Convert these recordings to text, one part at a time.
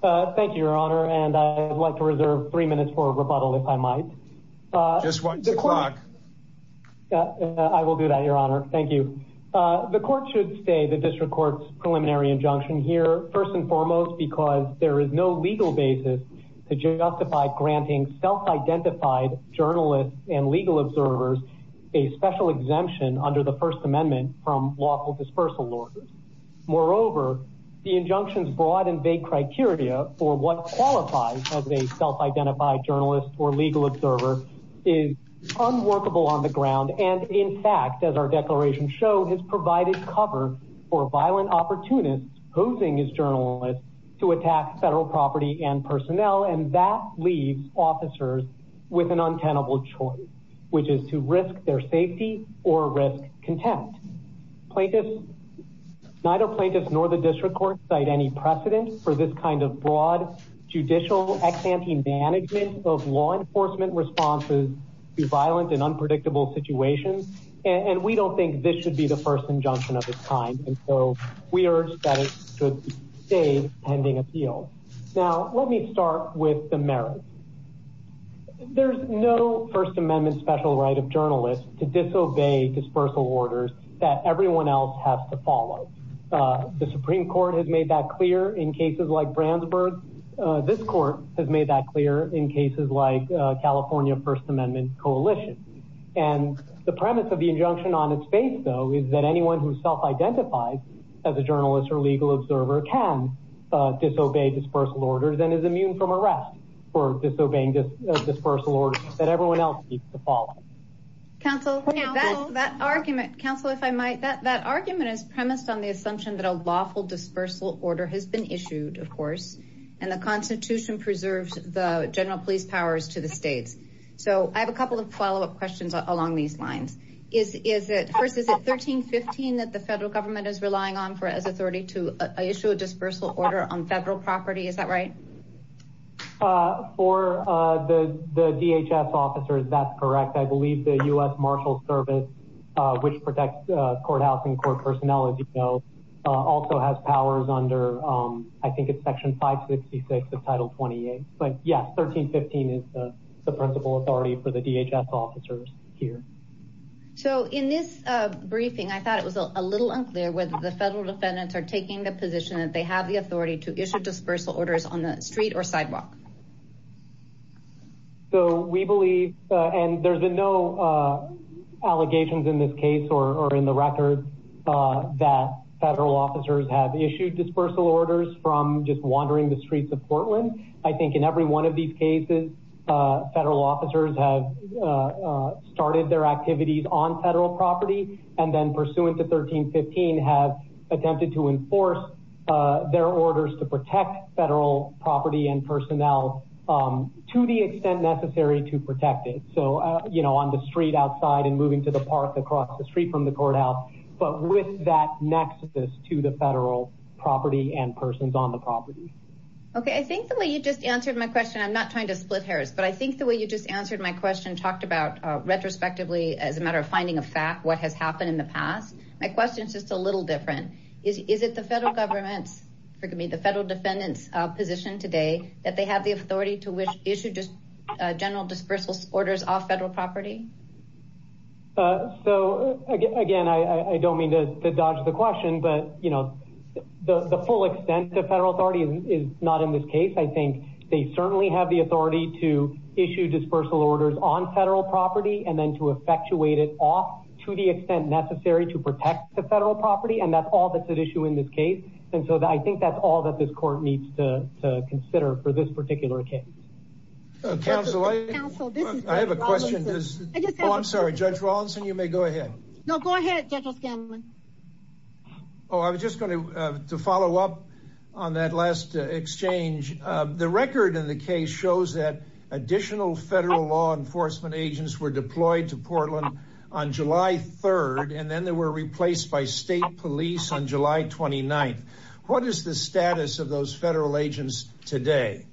Thank you your honor and I'd like to reserve three minutes for rebuttal if I might. I will do that your honor. Thank you. The court should stay the District Court's preliminary injunction here first and foremost because there is no legal basis to justify granting self-identified journalists and legal observers a special exemption under the First Amendment from lawful dispersal orders. Moreover the injunction's broad and vague criteria for what qualifies as a self-identified journalist or legal observer is unworkable on the ground and in fact as our declaration shows has provided cover for violent opportunists posing as journalists to attack federal property and personnel and that leaves officers with an untenable choice which is to risk their safety or risk contempt. Neither plaintiffs nor the District Court cite any precedent for this kind of broad judicial ex-ante management of law enforcement responses to violent and unpredictable situations and we don't think this should be the first injunction of its kind and so we urge that it should stay pending appeal. Now let me start with the merits. There's no First Amendment special right of journalists to disobey dispersal orders that everyone else has to follow. The Supreme Court has made that clear in cases like Brandsburg. This court has made that clear in cases like California First Amendment Coalition and the premise of the injunction on its face though is that anyone who self-identifies as a journalist or legal observer can disobey dispersal orders and is immune from arrest for disobeying dispersal orders that everyone else needs to follow. Counsel, that argument, counsel if I might, that that argument is premised on the assumption that a lawful dispersal order has been issued of course and the Constitution preserves the general police powers to the states. So I have a couple of follow-up questions along these lines. Is it, first is it 1315 that the federal government is relying on for as authority to issue a dispersal order on federal property, is that right? For the DHS officers, that's correct. I believe the US Marshals Service, which protects courthouse and court personnel as you know, also has powers under I think it's section 566 of Title 28. But yes, 1315 is the principal authority for the DHS officers here. So in this briefing I thought it was a little unclear whether the federal defendants are taking the position that they have the authority to issue dispersal orders on the street or sidewalk. So we believe, and there's been no allegations in this case or in the record, that federal officers have issued dispersal orders from just wandering the streets of Portland. I think in every one of these cases, federal officers have started their activities on federal property and then pursuant to 1315 have attempted to enforce their orders to protect federal property and personnel to the extent necessary to protect it. So you know, on the street outside and moving to the park across the street from the courthouse, but with that nexus to the federal property and persons on the property. Okay, I think the way you just answered my question, I'm not trying to split hairs, but I think the way you just answered my question talked about retrospectively as a matter of finding a fact what has happened in the past. My question is just a little different. Is it the federal government's, forgive me, the federal defendants position today that they have the authority to issue just general dispersal orders off federal property? So again, I don't mean to dodge the question, but you know the full extent of federal authority is not in this case. I think they certainly have the authority to issue dispersal orders on federal property and then to effectuate it off to the extent necessary to protect the federal property. And that's all that's at issue in this case. And so I think that's all that this court needs to consider for this particular case. Council, I have a question. I'm sorry, Judge Rawlinson, you may go ahead. No, go ahead. Oh, I was just going to follow up on that last exchange. The record in the case shows that additional federal law enforcement agents were deployed to Portland on July 3rd, and then they were replaced by state police on July 29th. What is the status of those federal agents today?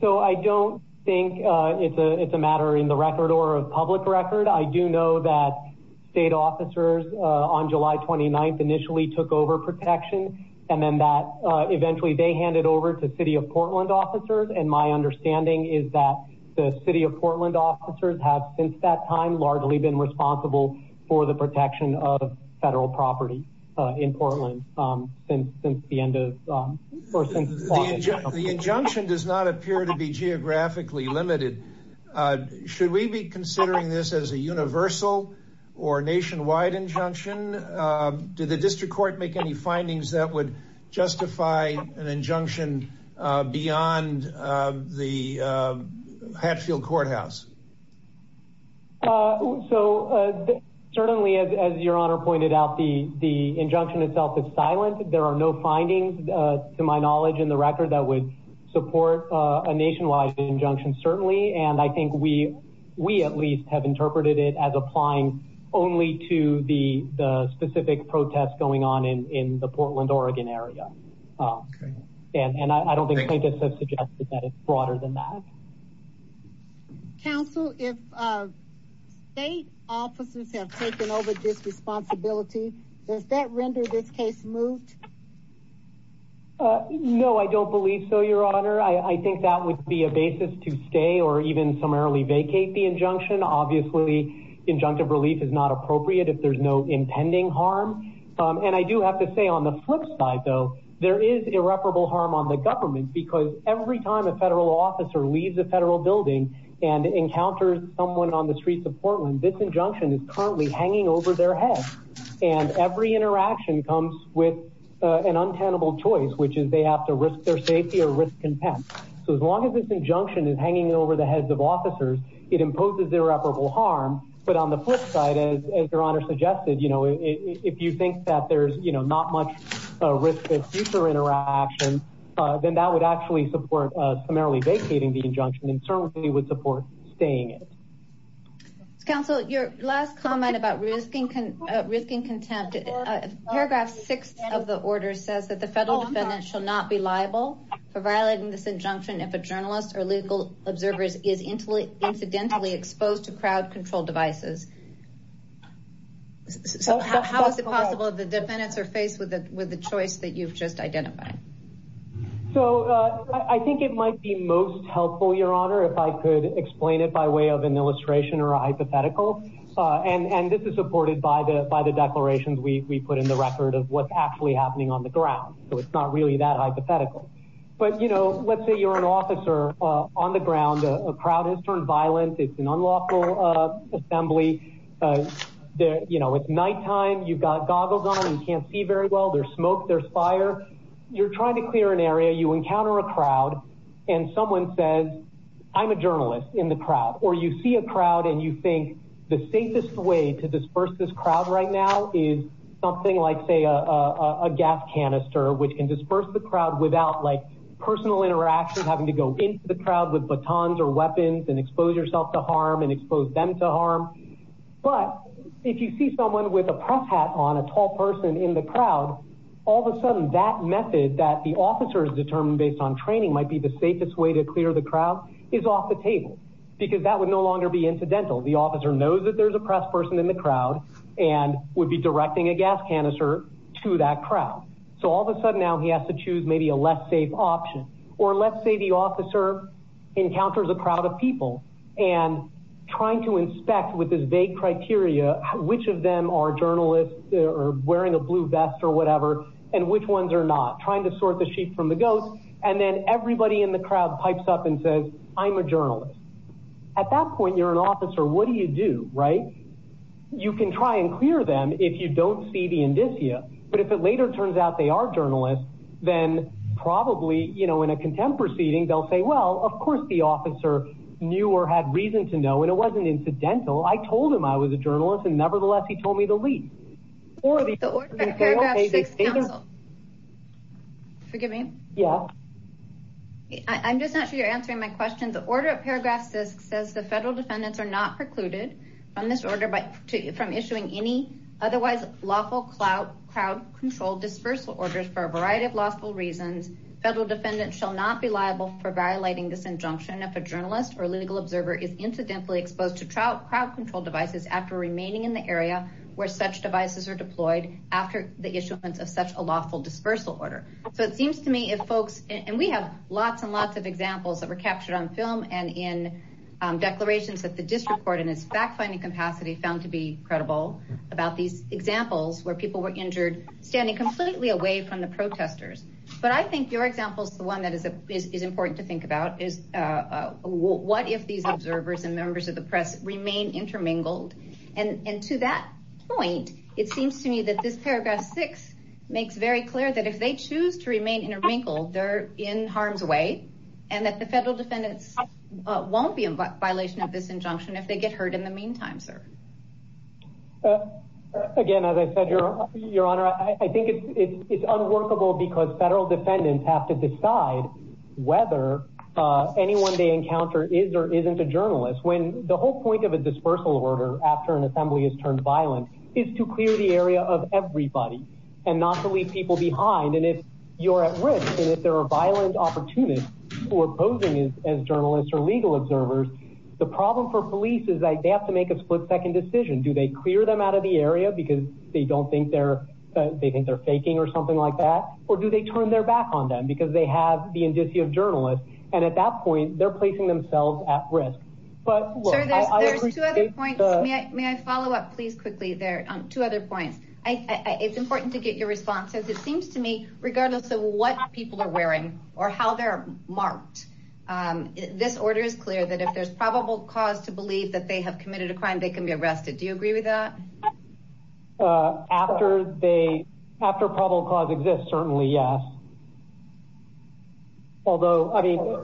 So I don't think it's a matter in the record or a public record. I do know that state officers on July 29th initially took over protection and then that eventually they handed over to city of Portland officers. And my understanding is that the city of Portland officers have since that time largely been responsible for the protection of federal property in Portland since the end of the injunction does not appear to be geographically limited. Should we be considering this as a universal or nationwide injunction? Did the district court make any findings that would fund the Hatfield Courthouse? So certainly, as your honor pointed out, the injunction itself is silent. There are no findings, to my knowledge, in the record that would support a nationwide injunction, certainly. And I think we at least have interpreted it as applying only to the specific protests going on in the Portland, Oregon area. Okay. And I don't think plaintiffs have suggested that it's broader than that. Counsel, if state officers have taken over this responsibility, does that render this case moved? No, I don't believe so, your honor. I think that would be a basis to stay or even summarily vacate the injunction. Obviously, injunctive relief is not appropriate if there's no impending harm. And I do have to say on the flip side, though, there is irreparable harm on the government because every time a federal officer leaves a federal building and encounters someone on the streets of Portland, this injunction is currently hanging over their head. And every interaction comes with an untenable choice, which is they have to risk their safety or risk contempt. So as long as this injunction is hanging over the heads of officers, it imposes irreparable harm. But on the flip side, as your honor suggested, you know, if you think that there's, you know, not much risk of future interaction, then that would actually support summarily vacating the injunction and certainly would support staying it. Counsel, your last comment about risking contempt, paragraph six of the order says that the federal defendant shall not be liable for violating this injunction if a journalist or legal observer is incidentally exposed to with the choice that you've just identified. So I think it might be most helpful, your honor, if I could explain it by way of an illustration or a hypothetical. And this is supported by the declarations we put in the record of what's actually happening on the ground. So it's not really that hypothetical. But, you know, let's say you're an officer on the ground. A crowd has turned violent. It's an unlawful assembly. You know, it's nighttime. You've got goggles on. You can't see very well. There's smoke. There's fire. You're trying to clear an area. You encounter a crowd and someone says, I'm a journalist in the crowd, or you see a crowd and you think the safest way to disperse this crowd right now is something like, say, a gas canister, which can disperse the crowd without like personal interaction, having to go into the crowd with batons or weapons and expose yourself to harm and expose them to person in the crowd. All of a sudden, that method that the officers determined based on training might be the safest way to clear the crowd is off the table because that would no longer be incidental. The officer knows that there's a press person in the crowd and would be directing a gas canister to that crowd. So all of a sudden now he has to choose maybe a less safe option. Or let's say the officer encounters a crowd of people and trying to inspect with this vague criteria, which of them are journalists or wearing a blue vest or whatever, and which ones are not trying to sort the sheep from the goats. And then everybody in the crowd pipes up and says, I'm a journalist. At that point, you're an officer. What do you do, right? You can try and clear them if you don't see the indicia. But if it later turns out they are journalists, then probably in a contempt proceeding, they'll say, well, of course the officer knew or had reason to know, and it wasn't incidental. I told him I was a journalist, and nevertheless, he told me to leave. The order of paragraph six counsel. Forgive me? Yeah. I'm just not sure you're answering my question. The order of paragraph six says the federal defendants are not precluded from issuing any otherwise lawful crowd control dispersal orders for a variety of lawful reasons. Federal defendants shall not be liable for violating this injunction if a journalist or legal are remaining in the area where such devices are deployed after the issuance of such a lawful dispersal order. So it seems to me if folks... And we have lots and lots of examples that were captured on film and in declarations that the district court in its fact finding capacity found to be credible about these examples where people were injured, standing completely away from the protesters. But I think your example is the one that is important to think about is, what if these observers and members of the public are wrinkled? And to that point, it seems to me that this paragraph six makes very clear that if they choose to remain in a wrinkle, they're in harm's way, and that the federal defendants won't be in violation of this injunction if they get hurt in the meantime, sir. Again, as I said, Your Honor, I think it's unworkable because federal defendants have to decide whether anyone they encounter is or isn't a victim of a dispersal order after an assembly is turned violent is to clear the area of everybody and not to leave people behind. And if you're at risk, and if there are violent opportunists who are posing as journalists or legal observers, the problem for police is they have to make a split second decision. Do they clear them out of the area because they don't think they're... They think they're faking or something like that? Or do they turn their back on them because they have the indicia of journalists? And at that point, they're placing themselves at risk. But... May I follow up, please, quickly there on two other points? It's important to get your responses. It seems to me, regardless of what people are wearing or how they're marked, this order is clear that if there's probable cause to believe that they have committed a crime, they can be arrested. Do you agree with that? After probable cause exists, certainly yes. Although,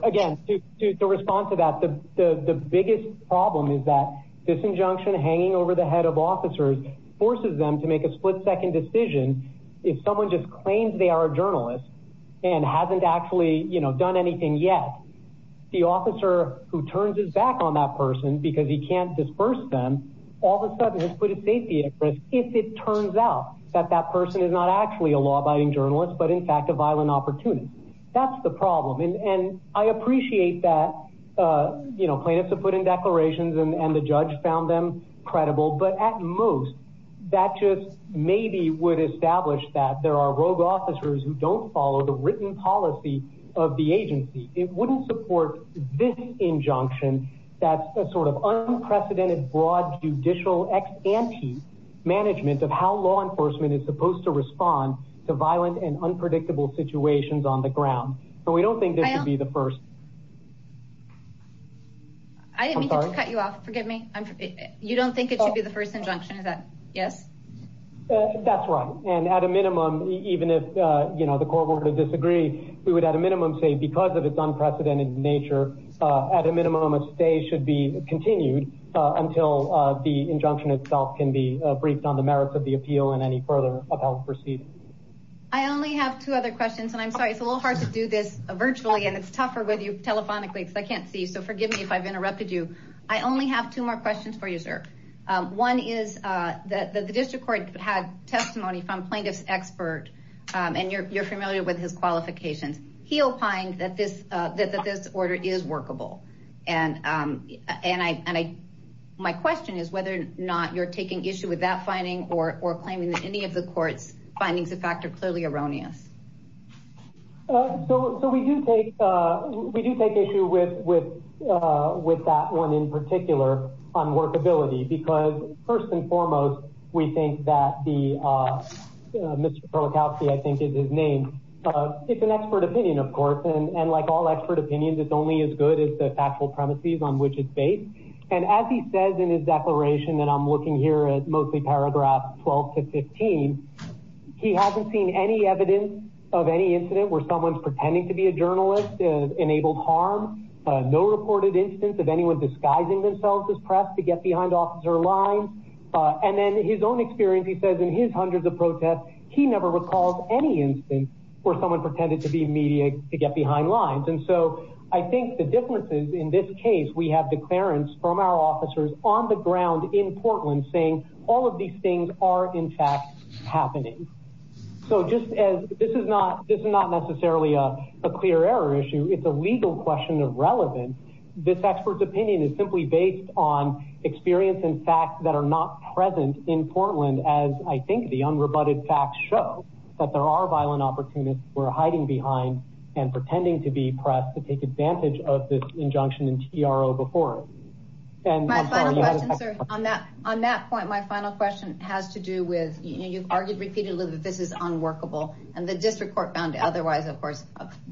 again, to respond to that, the biggest problem is that this injunction hanging over the head of officers forces them to make a split second decision. If someone just claims they are a journalist and hasn't actually done anything yet, the officer who turns his back on that person because he can't disperse them, all of a sudden has put his safety at risk if it turns out that that person is not actually a law abiding journalist, but in fact, a violent opportunist. That's the problem. And I appreciate that plaintiffs have put in declarations and the judge found them credible, but at most, that just maybe would establish that there are rogue officers who don't follow the written policy of the agency. It wouldn't support this injunction that's a sort of unprecedented broad judicial ex ante management of how law enforcement is supposed to respond to violent and unpredictable situations on the ground. But we don't think this should be the first. I didn't mean to cut you off. Forgive me. You don't think it should be the first injunction, is that... Yes? That's right. And at a minimum, even if the court were to disagree, we would at a minimum say, because of its unprecedented nature, at a minimum, a stay should be continued until the injunction itself can be briefed on the merits of the appeal and any further appellate proceedings. I only have two other questions, and I'm sorry, it's a little hard to do this virtually, and it's tougher with you telephonically, because I can't see, so forgive me if I've interrupted you. I only have two more questions for you, sir. One is that the district court had testimony from plaintiff's expert, and you're familiar with his qualifications. He opined that this order is my question is whether or not you're taking issue with that finding or claiming that any of the court's findings of fact are clearly erroneous. So we do take issue with that one, in particular, on workability, because first and foremost, we think that the... Mr. Perlikowski, I think is his name. It's an expert opinion, of course, and like all expert opinions, it's only as good as the factual premises on which it's based. And as he says in his declaration, and I'm looking here at mostly paragraph 12 to 15, he hasn't seen any evidence of any incident where someone's pretending to be a journalist, enabled harm, no reported instance of anyone disguising themselves as press to get behind officer lines. And then his own experience, he says in his hundreds of protests, he never recalls any instance where someone pretended to be media to get behind lines. And so I think the differences in this case, we have declarants from our officers on the ground in Portland saying all of these things are in fact happening. So just as this is not necessarily a clear error issue, it's a legal question of relevance. This expert's opinion is simply based on experience and facts that are not present in Portland, as I think the unrebutted facts show that there are violent opportunists who are hiding behind and pretending to be press to take advantage of this injunction in TRO before. And my final question, sir, on that point, my final question has to do with, you've argued repeatedly that this is unworkable and the district court found otherwise, of course,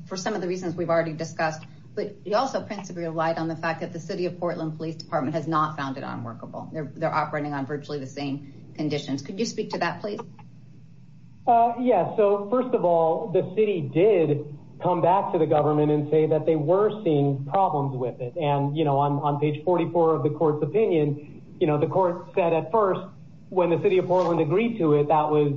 for some of the reasons we've already discussed. But you also principally relied on the fact that the city of Portland Police Department has not found it unworkable. They're operating Yes. So first of all, the city did come back to the government and say that they were seeing problems with it. And, you know, I'm on page 44 of the court's opinion. You know, the court said at first when the city of Portland agreed to it, that was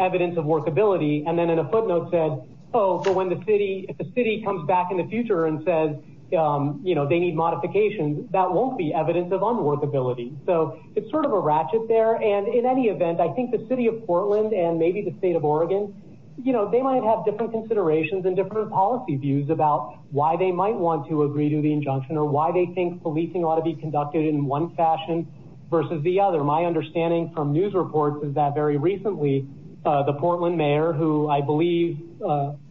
evidence of workability. And then in a footnote said, Oh, but when the city, the city comes back in the future and says, you know, they need modifications that won't be evidence of unworkability. So it's sort of a ratchet there. And in any event, I think the city of Portland and maybe the state of Oregon, you know, they might have different considerations and different policy views about why they might want to agree to the injunction or why they think policing ought to be conducted in one fashion versus the other. My understanding from news reports is that very recently the Portland mayor, who I believe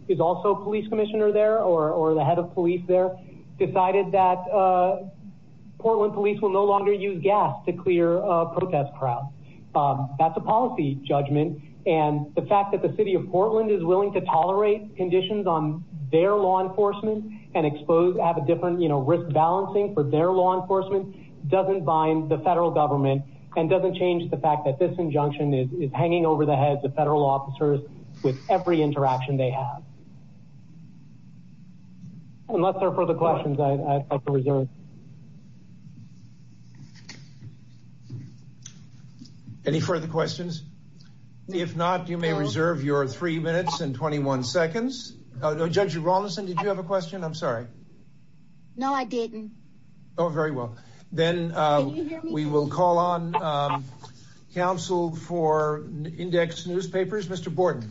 is also a police commissioner there or the head of police there decided that Portland police will no longer use gas to clear protest crowds. That's a policy judgment. And the fact that the city of Portland is willing to tolerate conditions on their law enforcement and expose have a different, you know, risk balancing for their law enforcement doesn't bind the federal government and doesn't change the fact that this injunction is hanging over the heads of federal officers with every interaction they have. Unless there are further questions, I'd like to reserve. Any further questions? If not, you may reserve your three minutes and 21 seconds. Judge Rawlinson, did you have a question? I'm sorry. No, I didn't. Oh, very well. Then we will call on counsel for index newspapers. Mr. Borden.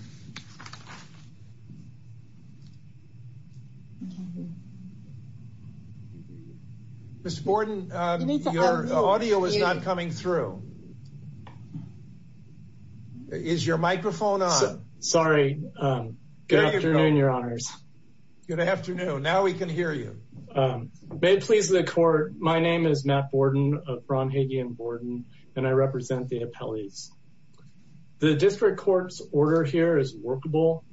Mr. Borden, your audio is not coming through. Is your microphone on? Sorry. Good afternoon, your honors. Good afternoon. Now we can hear you. May it please the court. My name is Matt Borden of Bromhage and Borden, and I represent the appellees. The district court's order here is workable.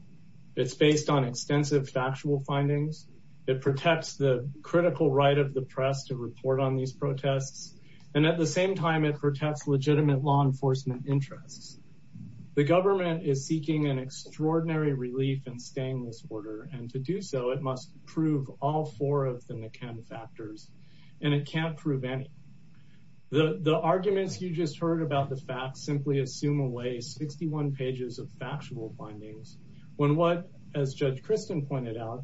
It's based on extensive factual findings. It protects the critical right of the press to report on these protests. And at the same time, it protects legitimate law enforcement interests. The government is seeking an extraordinary relief in staying this order. And to do so, it must prove all four of the factors, and it can't prove any. The arguments you just heard about the facts simply assume away 61 pages of factual findings when what, as Judge Christen pointed out,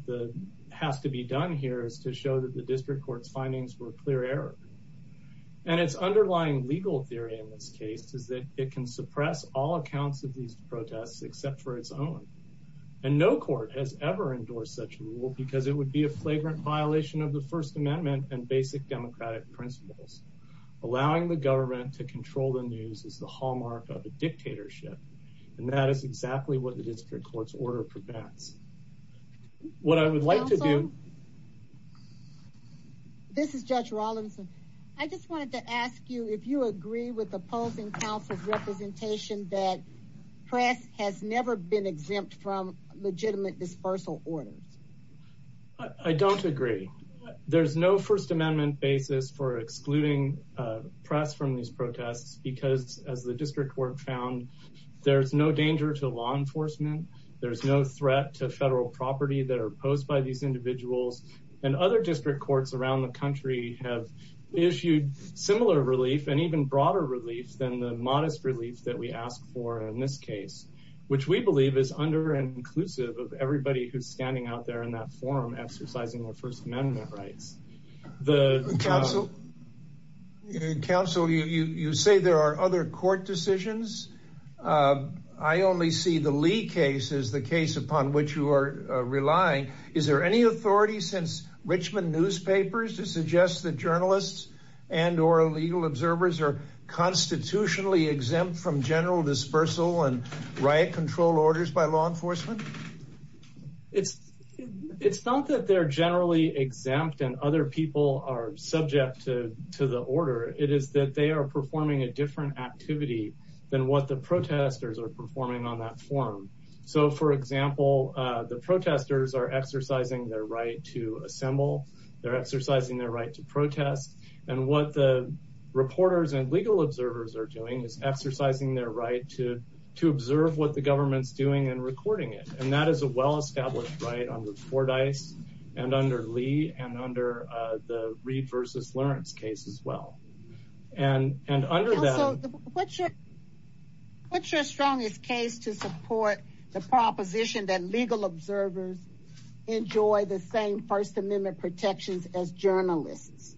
has to be done here is to show that the district court's findings were clear error. And its underlying legal theory in this case is that it can suppress all accounts of these protests except for its own. And no court has ever endorsed such a rule because it would be a flagrant violation of the First Amendment and basic democratic principles. Allowing the government to control the news is the hallmark of a dictatorship, and that is exactly what the district court's order prevents. What I would like to do. This is Judge Rawlinson. I just wanted to ask you if you agree with opposing counsel's representation that press has never been exempt from legitimate dispersal orders. I don't agree. There's no First Amendment basis for excluding press from these protests because, as the district court found, there's no danger to law enforcement. There's no threat to federal property that are posed by these individuals. And other district courts around the country have issued similar relief and even broader relief than the modest relief that we asked for in this case, which we believe is under-inclusive of everybody who's standing out there in that forum exercising their First Amendment rights. Counsel, you say there are other court decisions. I only see the Lee case as the case upon which you are relying. Is there any authority since Richmond newspapers to suggest that journalists and or legal observers are constitutionally exempt from general dispersal and riot control orders by law enforcement? It's not that they're generally exempt and other people are subject to the order. It is that they are performing a different activity than what the protesters are performing on that forum. So, for example, the protesters are exercising their right to assemble. They're exercising their right to protest. And what the reporters and legal observers are doing is exercising their right to observe what the government's doing and recording it. And that is a well-established right under Fordyce and under Lee and under the Reed v. Lawrence case as well. And under that... Counsel, what's your strongest case to support the proposition that legal observers enjoy the same First Amendment protections as journalists?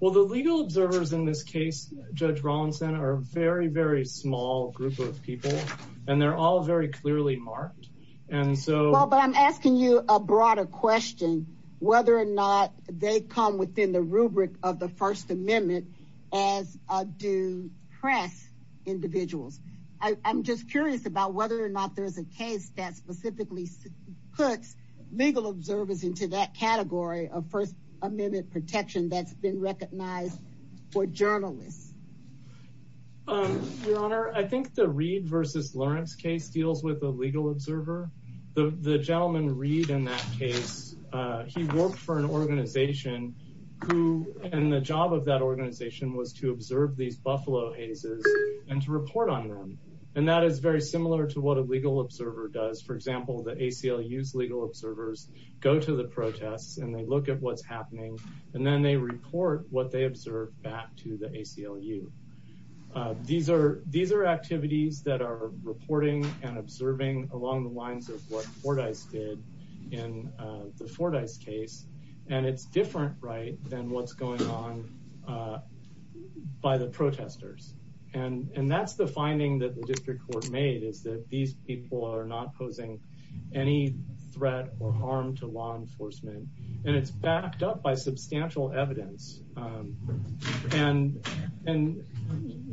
Well, the legal observers in this case, Judge Rawlinson, are a very, very small group of people, and they're all very clearly marked. And so... Well, but I'm asking you a broader question, whether or not they come within the rubric of the First Amendment as do press individuals. I'm just curious about whether or not there's a case that specifically puts legal observers into that category of First Amendment protection that's been recognized for journalists. Your Honor, I think the Reed v. Lawrence case deals with a legal observer. The gentleman, Reed, in that case, he worked for an organization who... And the job of that organization was to observe these buffalo hazes and to report on them. And that is very similar to what a legal observer does. For example, the go to the protests, and they look at what's happening, and then they report what they observed back to the ACLU. These are activities that are reporting and observing along the lines of what Fordyce did in the Fordyce case, and it's different, right, than what's going on by the protesters. And that's the finding that the district court made, is that these people are not posing any threat or harm to law enforcement, and it's backed up by substantial evidence. And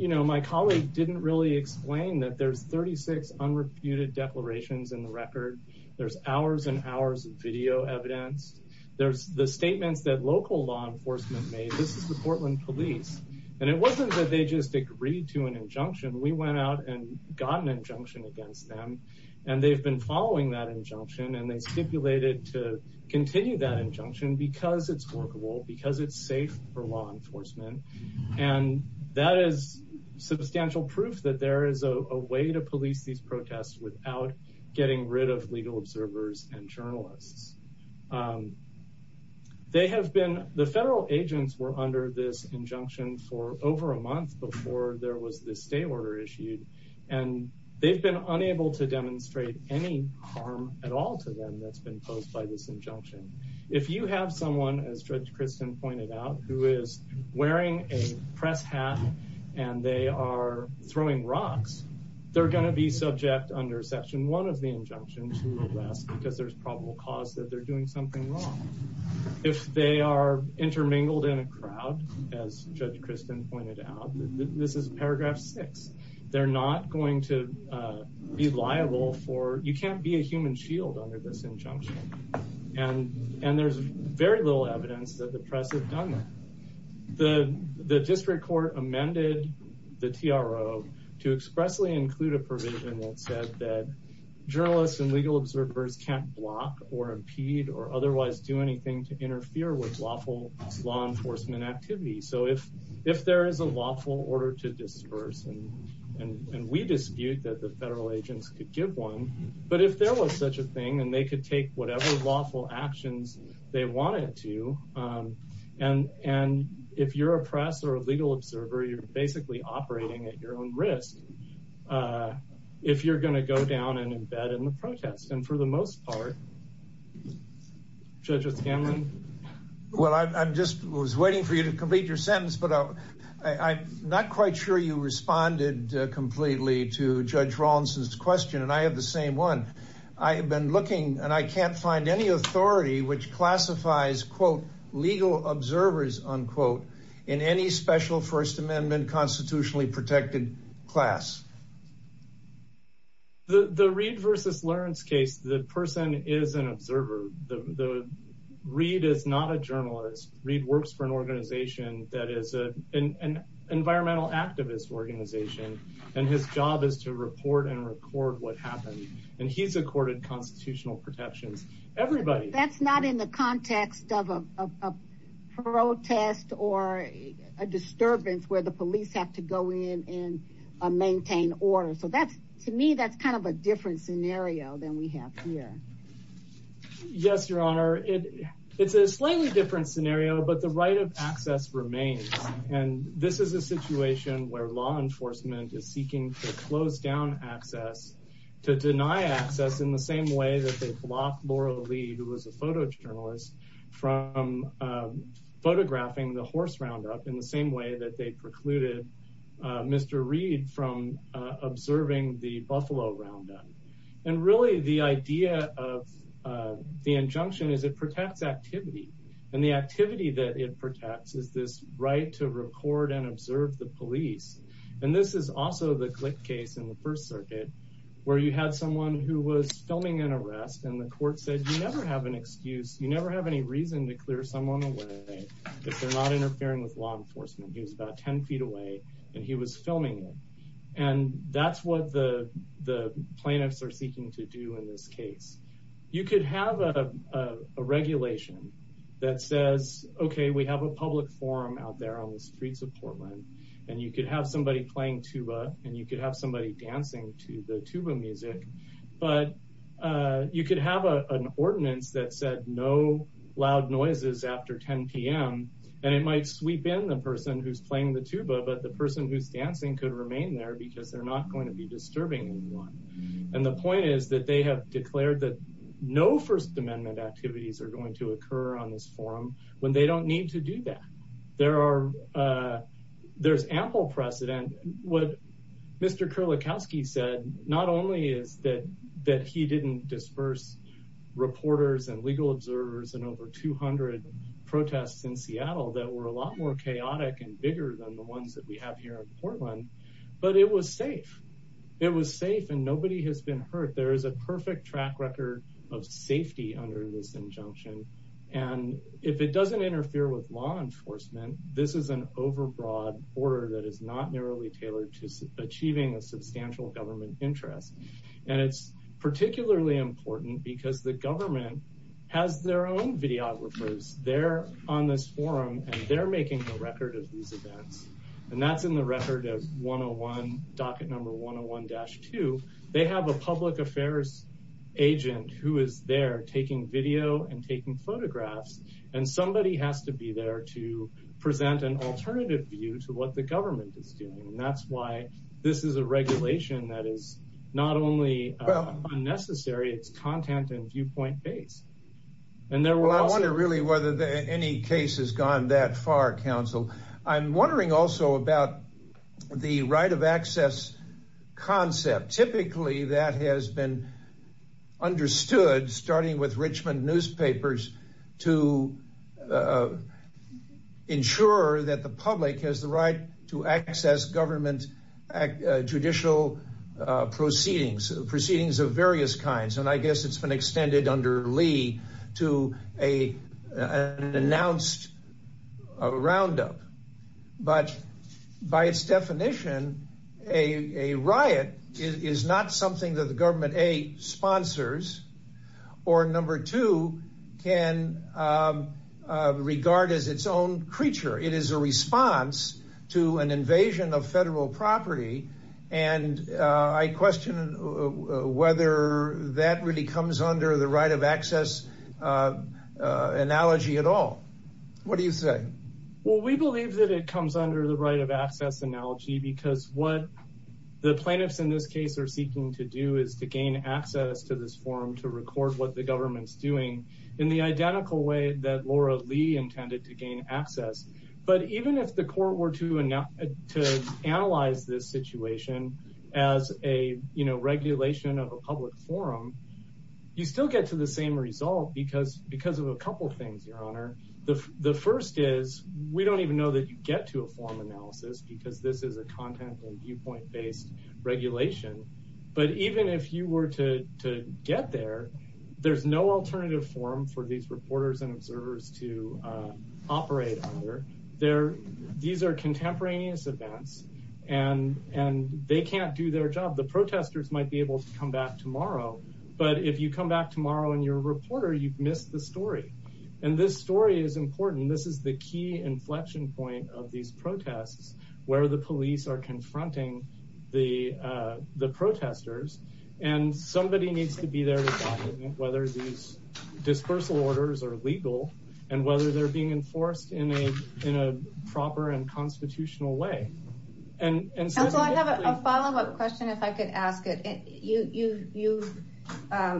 my colleague didn't really explain that there's 36 unreputed declarations in the record. There's hours and hours of video evidence. There's the statements that local law enforcement made. This is the Portland Police. And it wasn't that they just agreed to an injunction. We went out and got an injunction against them, and they've been following that injunction, and they stipulated to continue that injunction because it's workable, because it's safe for law enforcement. And that is substantial proof that there is a way to police these protests without getting rid of legal observers and journalists. The federal agents were under this injunction for over a month before there was this stay order issued, and they've been unable to that's been posed by this injunction. If you have someone, as Judge Kristen pointed out, who is wearing a press hat and they are throwing rocks, they're gonna be subject under section one of the injunction to arrest because there's probable cause that they're doing something wrong. If they are intermingled in a crowd, as Judge Kristen pointed out, this is paragraph six, they're not going to be liable for, you can't be a human shield under this injunction. And there's very little evidence that the press have done that. The district court amended the TRO to expressly include a provision that said that journalists and legal observers can't block or impede or otherwise do anything to interfere with law enforcement activity. So if there is a lawful order to disperse, and we dispute that the federal agents could give one, but if there was such a thing and they could take whatever lawful actions they wanted to, and if you're a press or a legal observer, you're basically operating at your own risk if you're going to go down and embed in the protest. And for the most part, Judge O'Scanlan? Well, I just was waiting for you to complete your sentence, but I'm not quite sure you responded completely to Judge Rawlinson's question. And I have the same one. I have been looking and I can't find any authority which classifies, quote, legal observers, unquote, in any special first amendment constitutionally protected class. The Reed versus Lawrence case, the person is an observer. Reed is not a journalist. Reed works for an organization that is an environmental activist organization, and his job is to report and record what happened. And he's accorded constitutional protections. Everybody. That's not in the context of a protest or a disturbance where the police have to go in and maintain order. So that's, to me, that's kind of a different scenario than we have here. Yes, Your Honor. It's a slightly different scenario, but the right of access remains. And this is a situation where law enforcement is seeking to close down access, to deny access in the same way that they blocked Laura Lee, who was a photojournalist, from photographing the horse roundup in the same way that they precluded Mr. Reed from observing the Buffalo roundup. And really, the idea of the injunction is it protects activity, and the activity that it protects is this right to record and observe the police. And this is also the click case in the First Circuit, where you had someone who was filming an arrest, and the court said, You never have an excuse. You never have any reason to clear someone away if they're not interfering with law enforcement. He was about 10 feet away, and he was filming it. And that's what the plaintiffs are seeking to do in this case. You could have a regulation that says, Okay, we have a public forum out there on the streets of Portland, and you could have somebody playing tuba, and you could have somebody dancing to the tuba music. But you could have an ordinance that said, No loud noises after 10 p.m., and it might sweep in the person who's playing the tuba, but the person who's dancing could remain there because they're not going to be disturbing anyone. And the point is that they have declared that no First Amendment activities are going to occur on this forum when they don't need to do that. There's ample precedent. What Mr. Kurlikowski said, not only is that he didn't disperse reporters and legal observers in over 200 protests in Seattle that were a lot more chaotic and bigger than the ones that we have here in Portland, but it was safe. It was safe, and nobody has been hurt. There is a perfect track record of safety under this injunction, and if it doesn't interfere with law enforcement, this is an overbroad order that is not narrowly tailored to achieving a substantial government interest. And it's particularly important because the government has their own videographers there on this forum, and they're making the record of these events. And that's in the record of 101, docket number 101-2. They have a public affairs agent who is there taking video and taking photographs, and that's why this is a regulation that is not only unnecessary, it's content and viewpoint based. Well, I wonder really whether any case has gone that far, counsel. I'm wondering also about the right of access concept. Typically, that has been understood, starting with Richmond newspapers, to ensure that the public has the right to access government judicial proceedings of various kinds. And I guess it's been extended under Lee to an announced roundup. But by its definition, a riot is not something that the government, A, sponsors, or number two, can regard as its own creature. It is a response to an invasion of federal property. And I question whether that really comes under the right of access analogy at all. What do you say? Well, we believe that it comes under the right of access analogy because what the plaintiffs in this case are seeking to do is to gain access to this forum to record what the government's doing in the identical way that Laura Lee intended to gain access. But even if the court were to analyze this situation as a regulation of a public forum, you still get to the same result because of a couple of things, Your Honor. The first is we don't even know that you get to a forum analysis because this is a content and viewpoint based regulation. But even if you were to get there, there's no alternative forum for these reporters and observers to operate under. These are contemporaneous events and they can't do their job. The protesters might be able to come back tomorrow. But if you come back tomorrow and you're a reporter, you've missed the story. And this story is important. This is the key inflection point of these protests where the police are confronting the protesters. And somebody needs to be there to document whether these dispersal orders are legal and whether they're being enforced in a proper and constitutional way. And so I have a follow up question if I could ask it. You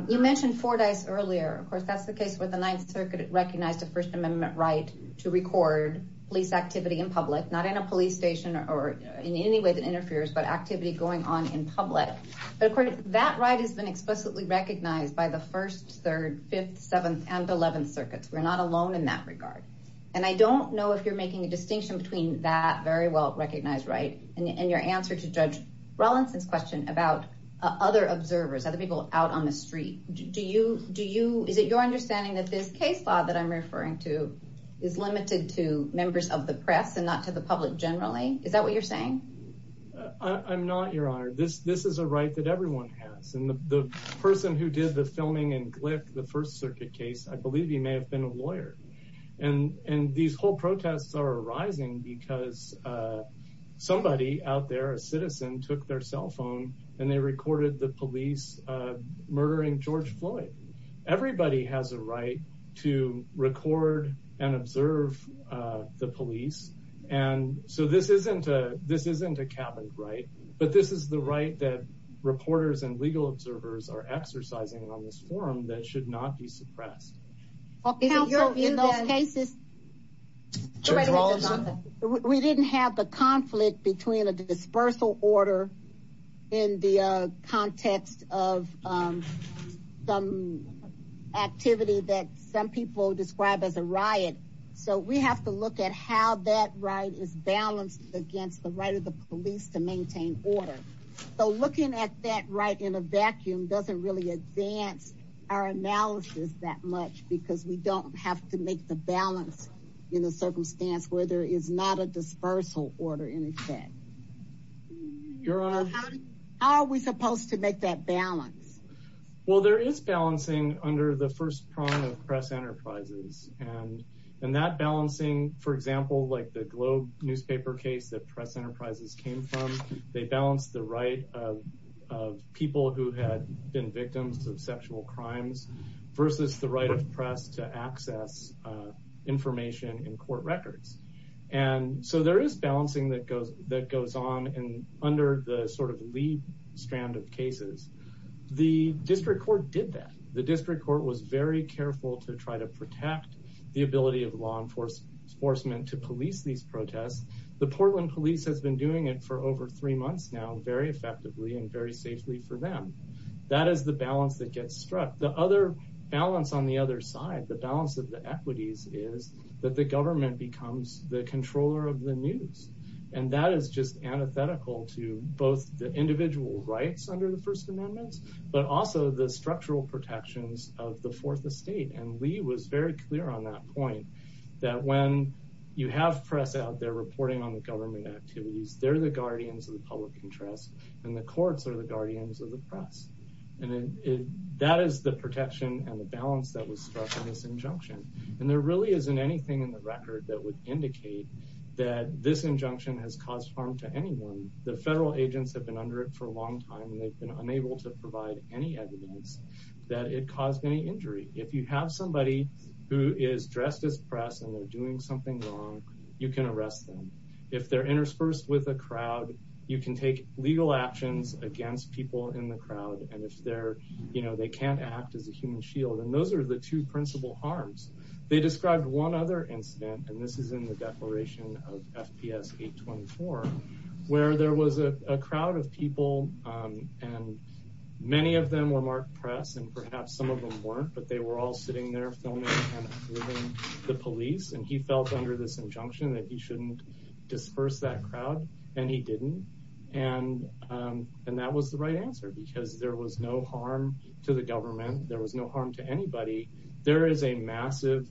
mentioned Fordyce earlier. Of course, that's the case where the Ninth Circuit recognized a First Amendment right to record police activity in public, not in a police station or in any way that interferes, but activity going on in public. But of course, that right has been explicitly recognized by the First, Third, Fifth, Seventh and Eleventh Circuits. We're not alone in that regard. And I don't know if you're making a distinction between that very well recognized right and your answer to Judge Rollinson's question about other observers, other people out on the street. Do you do you is it your understanding that this case law that I'm referring to is limited to members of the press and not to the public generally? Is that what you're saying? I'm not, Your Honor. This this is a right that everyone has. And the person who did the filming in Glick, the First Circuit case, I believe he may have been a lawyer. And and these whole protests are arising because somebody out there, a citizen, took their cell phone and they recorded the police murdering George Floyd. Everybody has a right to record and observe the police. And so this isn't a this isn't a cabin, right? But this is the right that reporters and legal observers are exercising on this forum that should not be suppressed. Well, in those cases, we didn't have the conflict between a dispersal order in the context of some activity that some people describe as a riot. So we have to against the right of the police to maintain order. So looking at that right in a vacuum doesn't really advance our analysis that much because we don't have to make the balance in a circumstance where there is not a dispersal order in effect. Your Honor, how are we supposed to make that balance? Well, there is balancing under the first prong of press enterprises and and that balancing, for the Globe newspaper case that press enterprises came from, they balanced the right of people who had been victims of sexual crimes versus the right of press to access information in court records. And so there is balancing that goes that goes on and under the sort of lead strand of cases. The district court did that. The district court was very careful to try to protect the ability of law enforcement to police these protests. The Portland police has been doing it for over three months now, very effectively and very safely for them. That is the balance that gets struck. The other balance on the other side, the balance of the equities, is that the government becomes the controller of the news. And that is just antithetical to both the individual rights under the First Amendment, but also the structural protections of the fourth estate. And Lee was very clear on that point, that when you have press out there reporting on the government activities, they're the guardians of the public interest and the courts are the guardians of the press. And that is the protection and the balance that was struck in this injunction. And there really isn't anything in the record that would indicate that this injunction has caused harm to anyone. The federal agents have been under it for a long time and they've been unable to provide any evidence that it caused any injury. If you have somebody who is dressed as press and they're doing something wrong, you can arrest them. If they're interspersed with a crowd, you can take legal actions against people in the crowd. And if they're, you know, they can't act as a human shield. And those are the two principal harms. They described one other incident, and this is in the declaration of FPS 824, where there was a crowd of people, and many of them were marked press and perhaps some of them weren't, but they were all sitting there filming the police. And he felt under this injunction that he shouldn't disperse that crowd. And he didn't. And that was the right answer because there was no harm to the government. There was no harm to anybody. There is a massive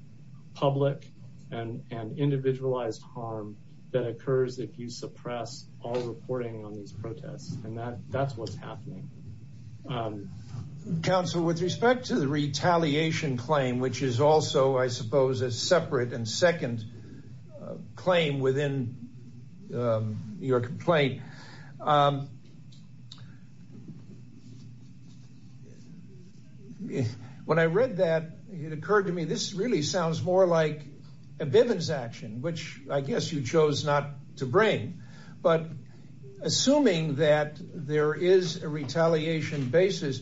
public and individualized harm that occurs if you suppress all reporting on these protests. And that's what's happening. Counsel, with respect to the retaliation claim, which is also, I suppose, a separate and second claim within your complaint. When I read that, it occurred to me, this really sounds more like a Bivens action, which I guess you chose not to bring. But assuming that there is a retaliation basis,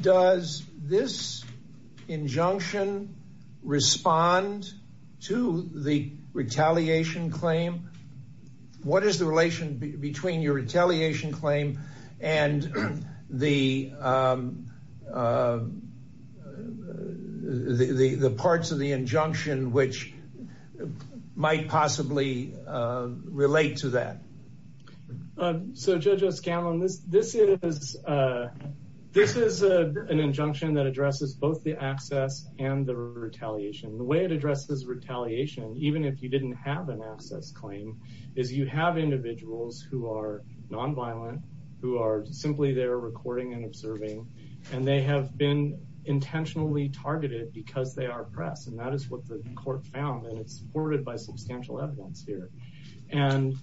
does this injunction respond to the retaliation claim? What is the relation between your relate to that? So, Judge O'Scanlan, this is an injunction that addresses both the access and the retaliation. The way it addresses retaliation, even if you didn't have an access claim, is you have individuals who are nonviolent, who are simply there recording and observing, and they have been intentionally targeted because they are oppressed. And that is what the court found, and it's supported by Bivens. And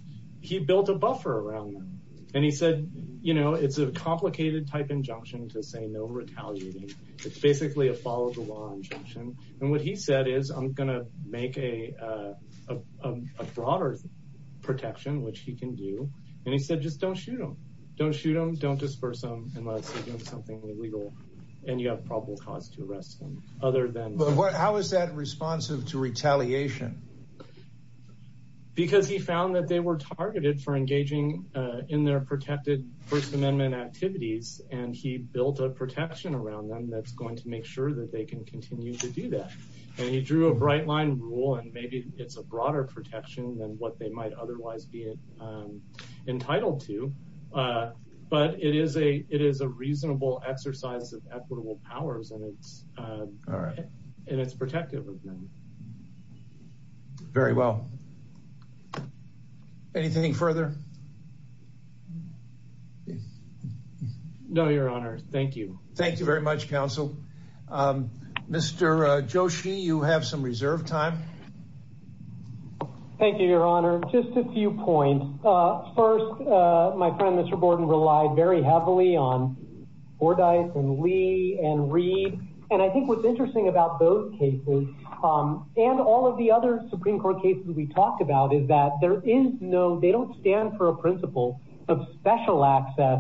he built a buffer around that. And he said, you know, it's a complicated type injunction to say no retaliating. It's basically a follow the law injunction. And what he said is, I'm going to make a broader protection, which he can do. And he said, just don't shoot them. Don't shoot them, don't disperse them, unless it's something illegal, and you have probable cause to arrest them, other than... But how is that responsive to retaliation? Because he found that they were targeted for engaging in their protected First Amendment activities, and he built a protection around them that's going to make sure that they can continue to do that. And he drew a bright line rule, and maybe it's a broader protection than what they might otherwise be entitled to. But it is a reasonable exercise of equitable powers, and it's protective of them. Very well. Anything further? No, Your Honor. Thank you. Thank you very much, counsel. Mr. Joshi, you have some reserve time. Thank you, Your Honor. Just a few points. First, my friend, Mr. Borden, relied very heavily on Bordyce and Lee and Reed. And I think what's interesting about those cases, and all of the other Supreme Court cases we talked about, is that there is no... They don't stand for a principle of special access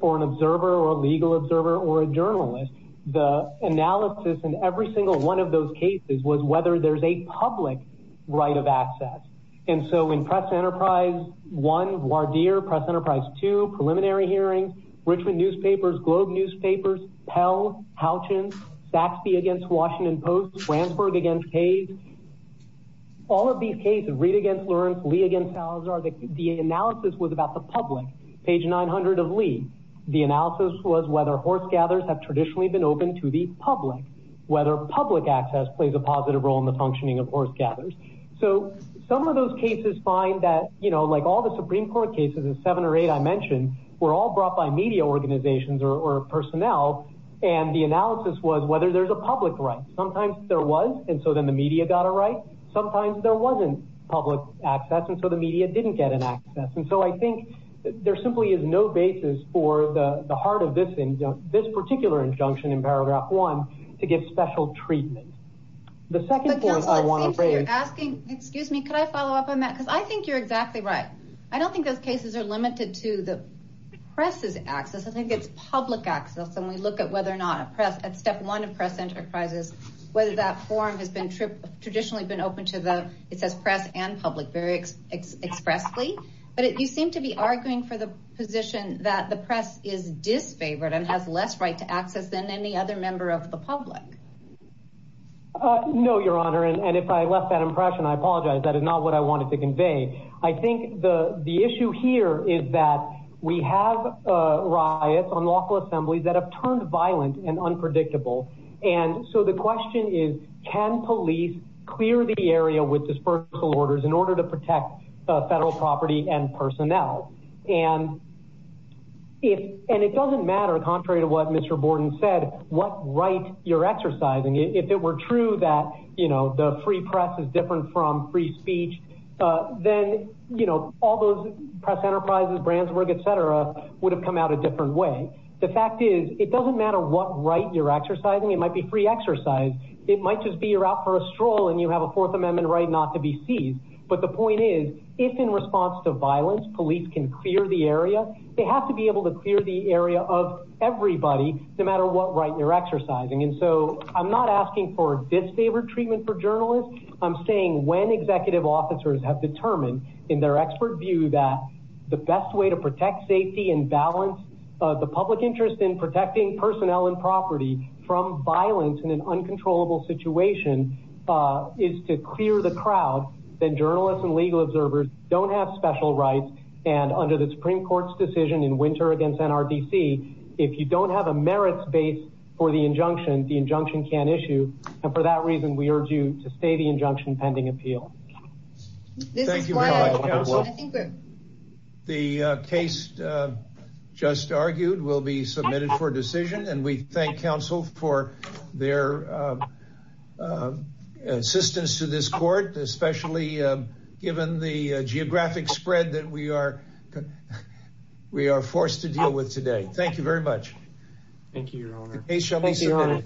for an observer or a legal observer or a journalist. The analysis in every single one of those cases was whether there's a public right of access. And so in Press Enterprise 1, Wardeer, Press Enterprise 2, preliminary hearings, Richmond Newspapers, Globe Newspapers, Pell, Houchins, Saxby against Washington Post, Fransburg against Hayes, all of these cases, Reed against Lawrence, Lee against Salazar, the analysis was about the public. Page 900 of Lee, the analysis was whether horse gathers have traditionally been open to the public, whether public access plays a positive role in the functioning of horse gathers. So some of those cases find that, like all the Supreme Court cases, the seven or eight I mentioned, were all brought by media organizations or personnel, and the analysis was whether there's a public right. Sometimes there was, and so then the media got a right. Sometimes there wasn't public access, and so the media didn't get an access. And so I think there simply is no basis for the heart of this particular injunction in paragraph one to give special treatment. The second point I wanna bring is... But counsel, it seems that you're asking... Excuse me, could I follow up on that? Because I think you're exactly right. I don't think those cases are limited to the press's access. I think it's public access, and we look at whether or not at step one of press enterprises, whether that forum has been traditionally been open to the... It says press and public very expressly, but you seem to be arguing for the position that the press is disfavored and has less right to access than any other member of the public. No, Your Honor, and if I left that impression, I apologize. That is not what I wanted to convey. I think the issue here is that we have riots on local assemblies that have turned violent and unpredictable, and so the question is, can police clear the area with dispersal orders in order to protect federal property and personnel? And it doesn't matter, contrary to what Mr. Borden said, what right you're exercising. If it were true that the free press is different from free speech, then all those press enterprises, Brandsburg, etc., would have come out a different way. The fact is, it doesn't matter what right you're exercising. It might be free exercise. It might just be you're out for a stroll and you have a Fourth Amendment right not to be seized. But the point is, if in response to violence, police can clear the area, they have to be able to clear the area of everybody, no matter what right you're exercising. And so I'm not asking for a disfavored treatment for journalists. I'm saying when executive officers have determined in their expert view that the best way to protect safety and balance the public interest in protecting personnel and property from violence in an uncontrollable situation is to clear the crowd, then journalists and legal observers don't have special rights. And under the Supreme Court's decision in winter against NRDC, if you don't have a merits base for the injunction, the injunction can't issue. And for that reason, we urge you to stay the injunction pending appeal. Thank you. The case just argued will be submitted for decision. And we thank counsel for their assistance to this court, especially given the geographic spread that we are we are forced to deal with today. Thank you very much. Thank you, Your Honor.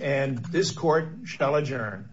And this court shall adjourn.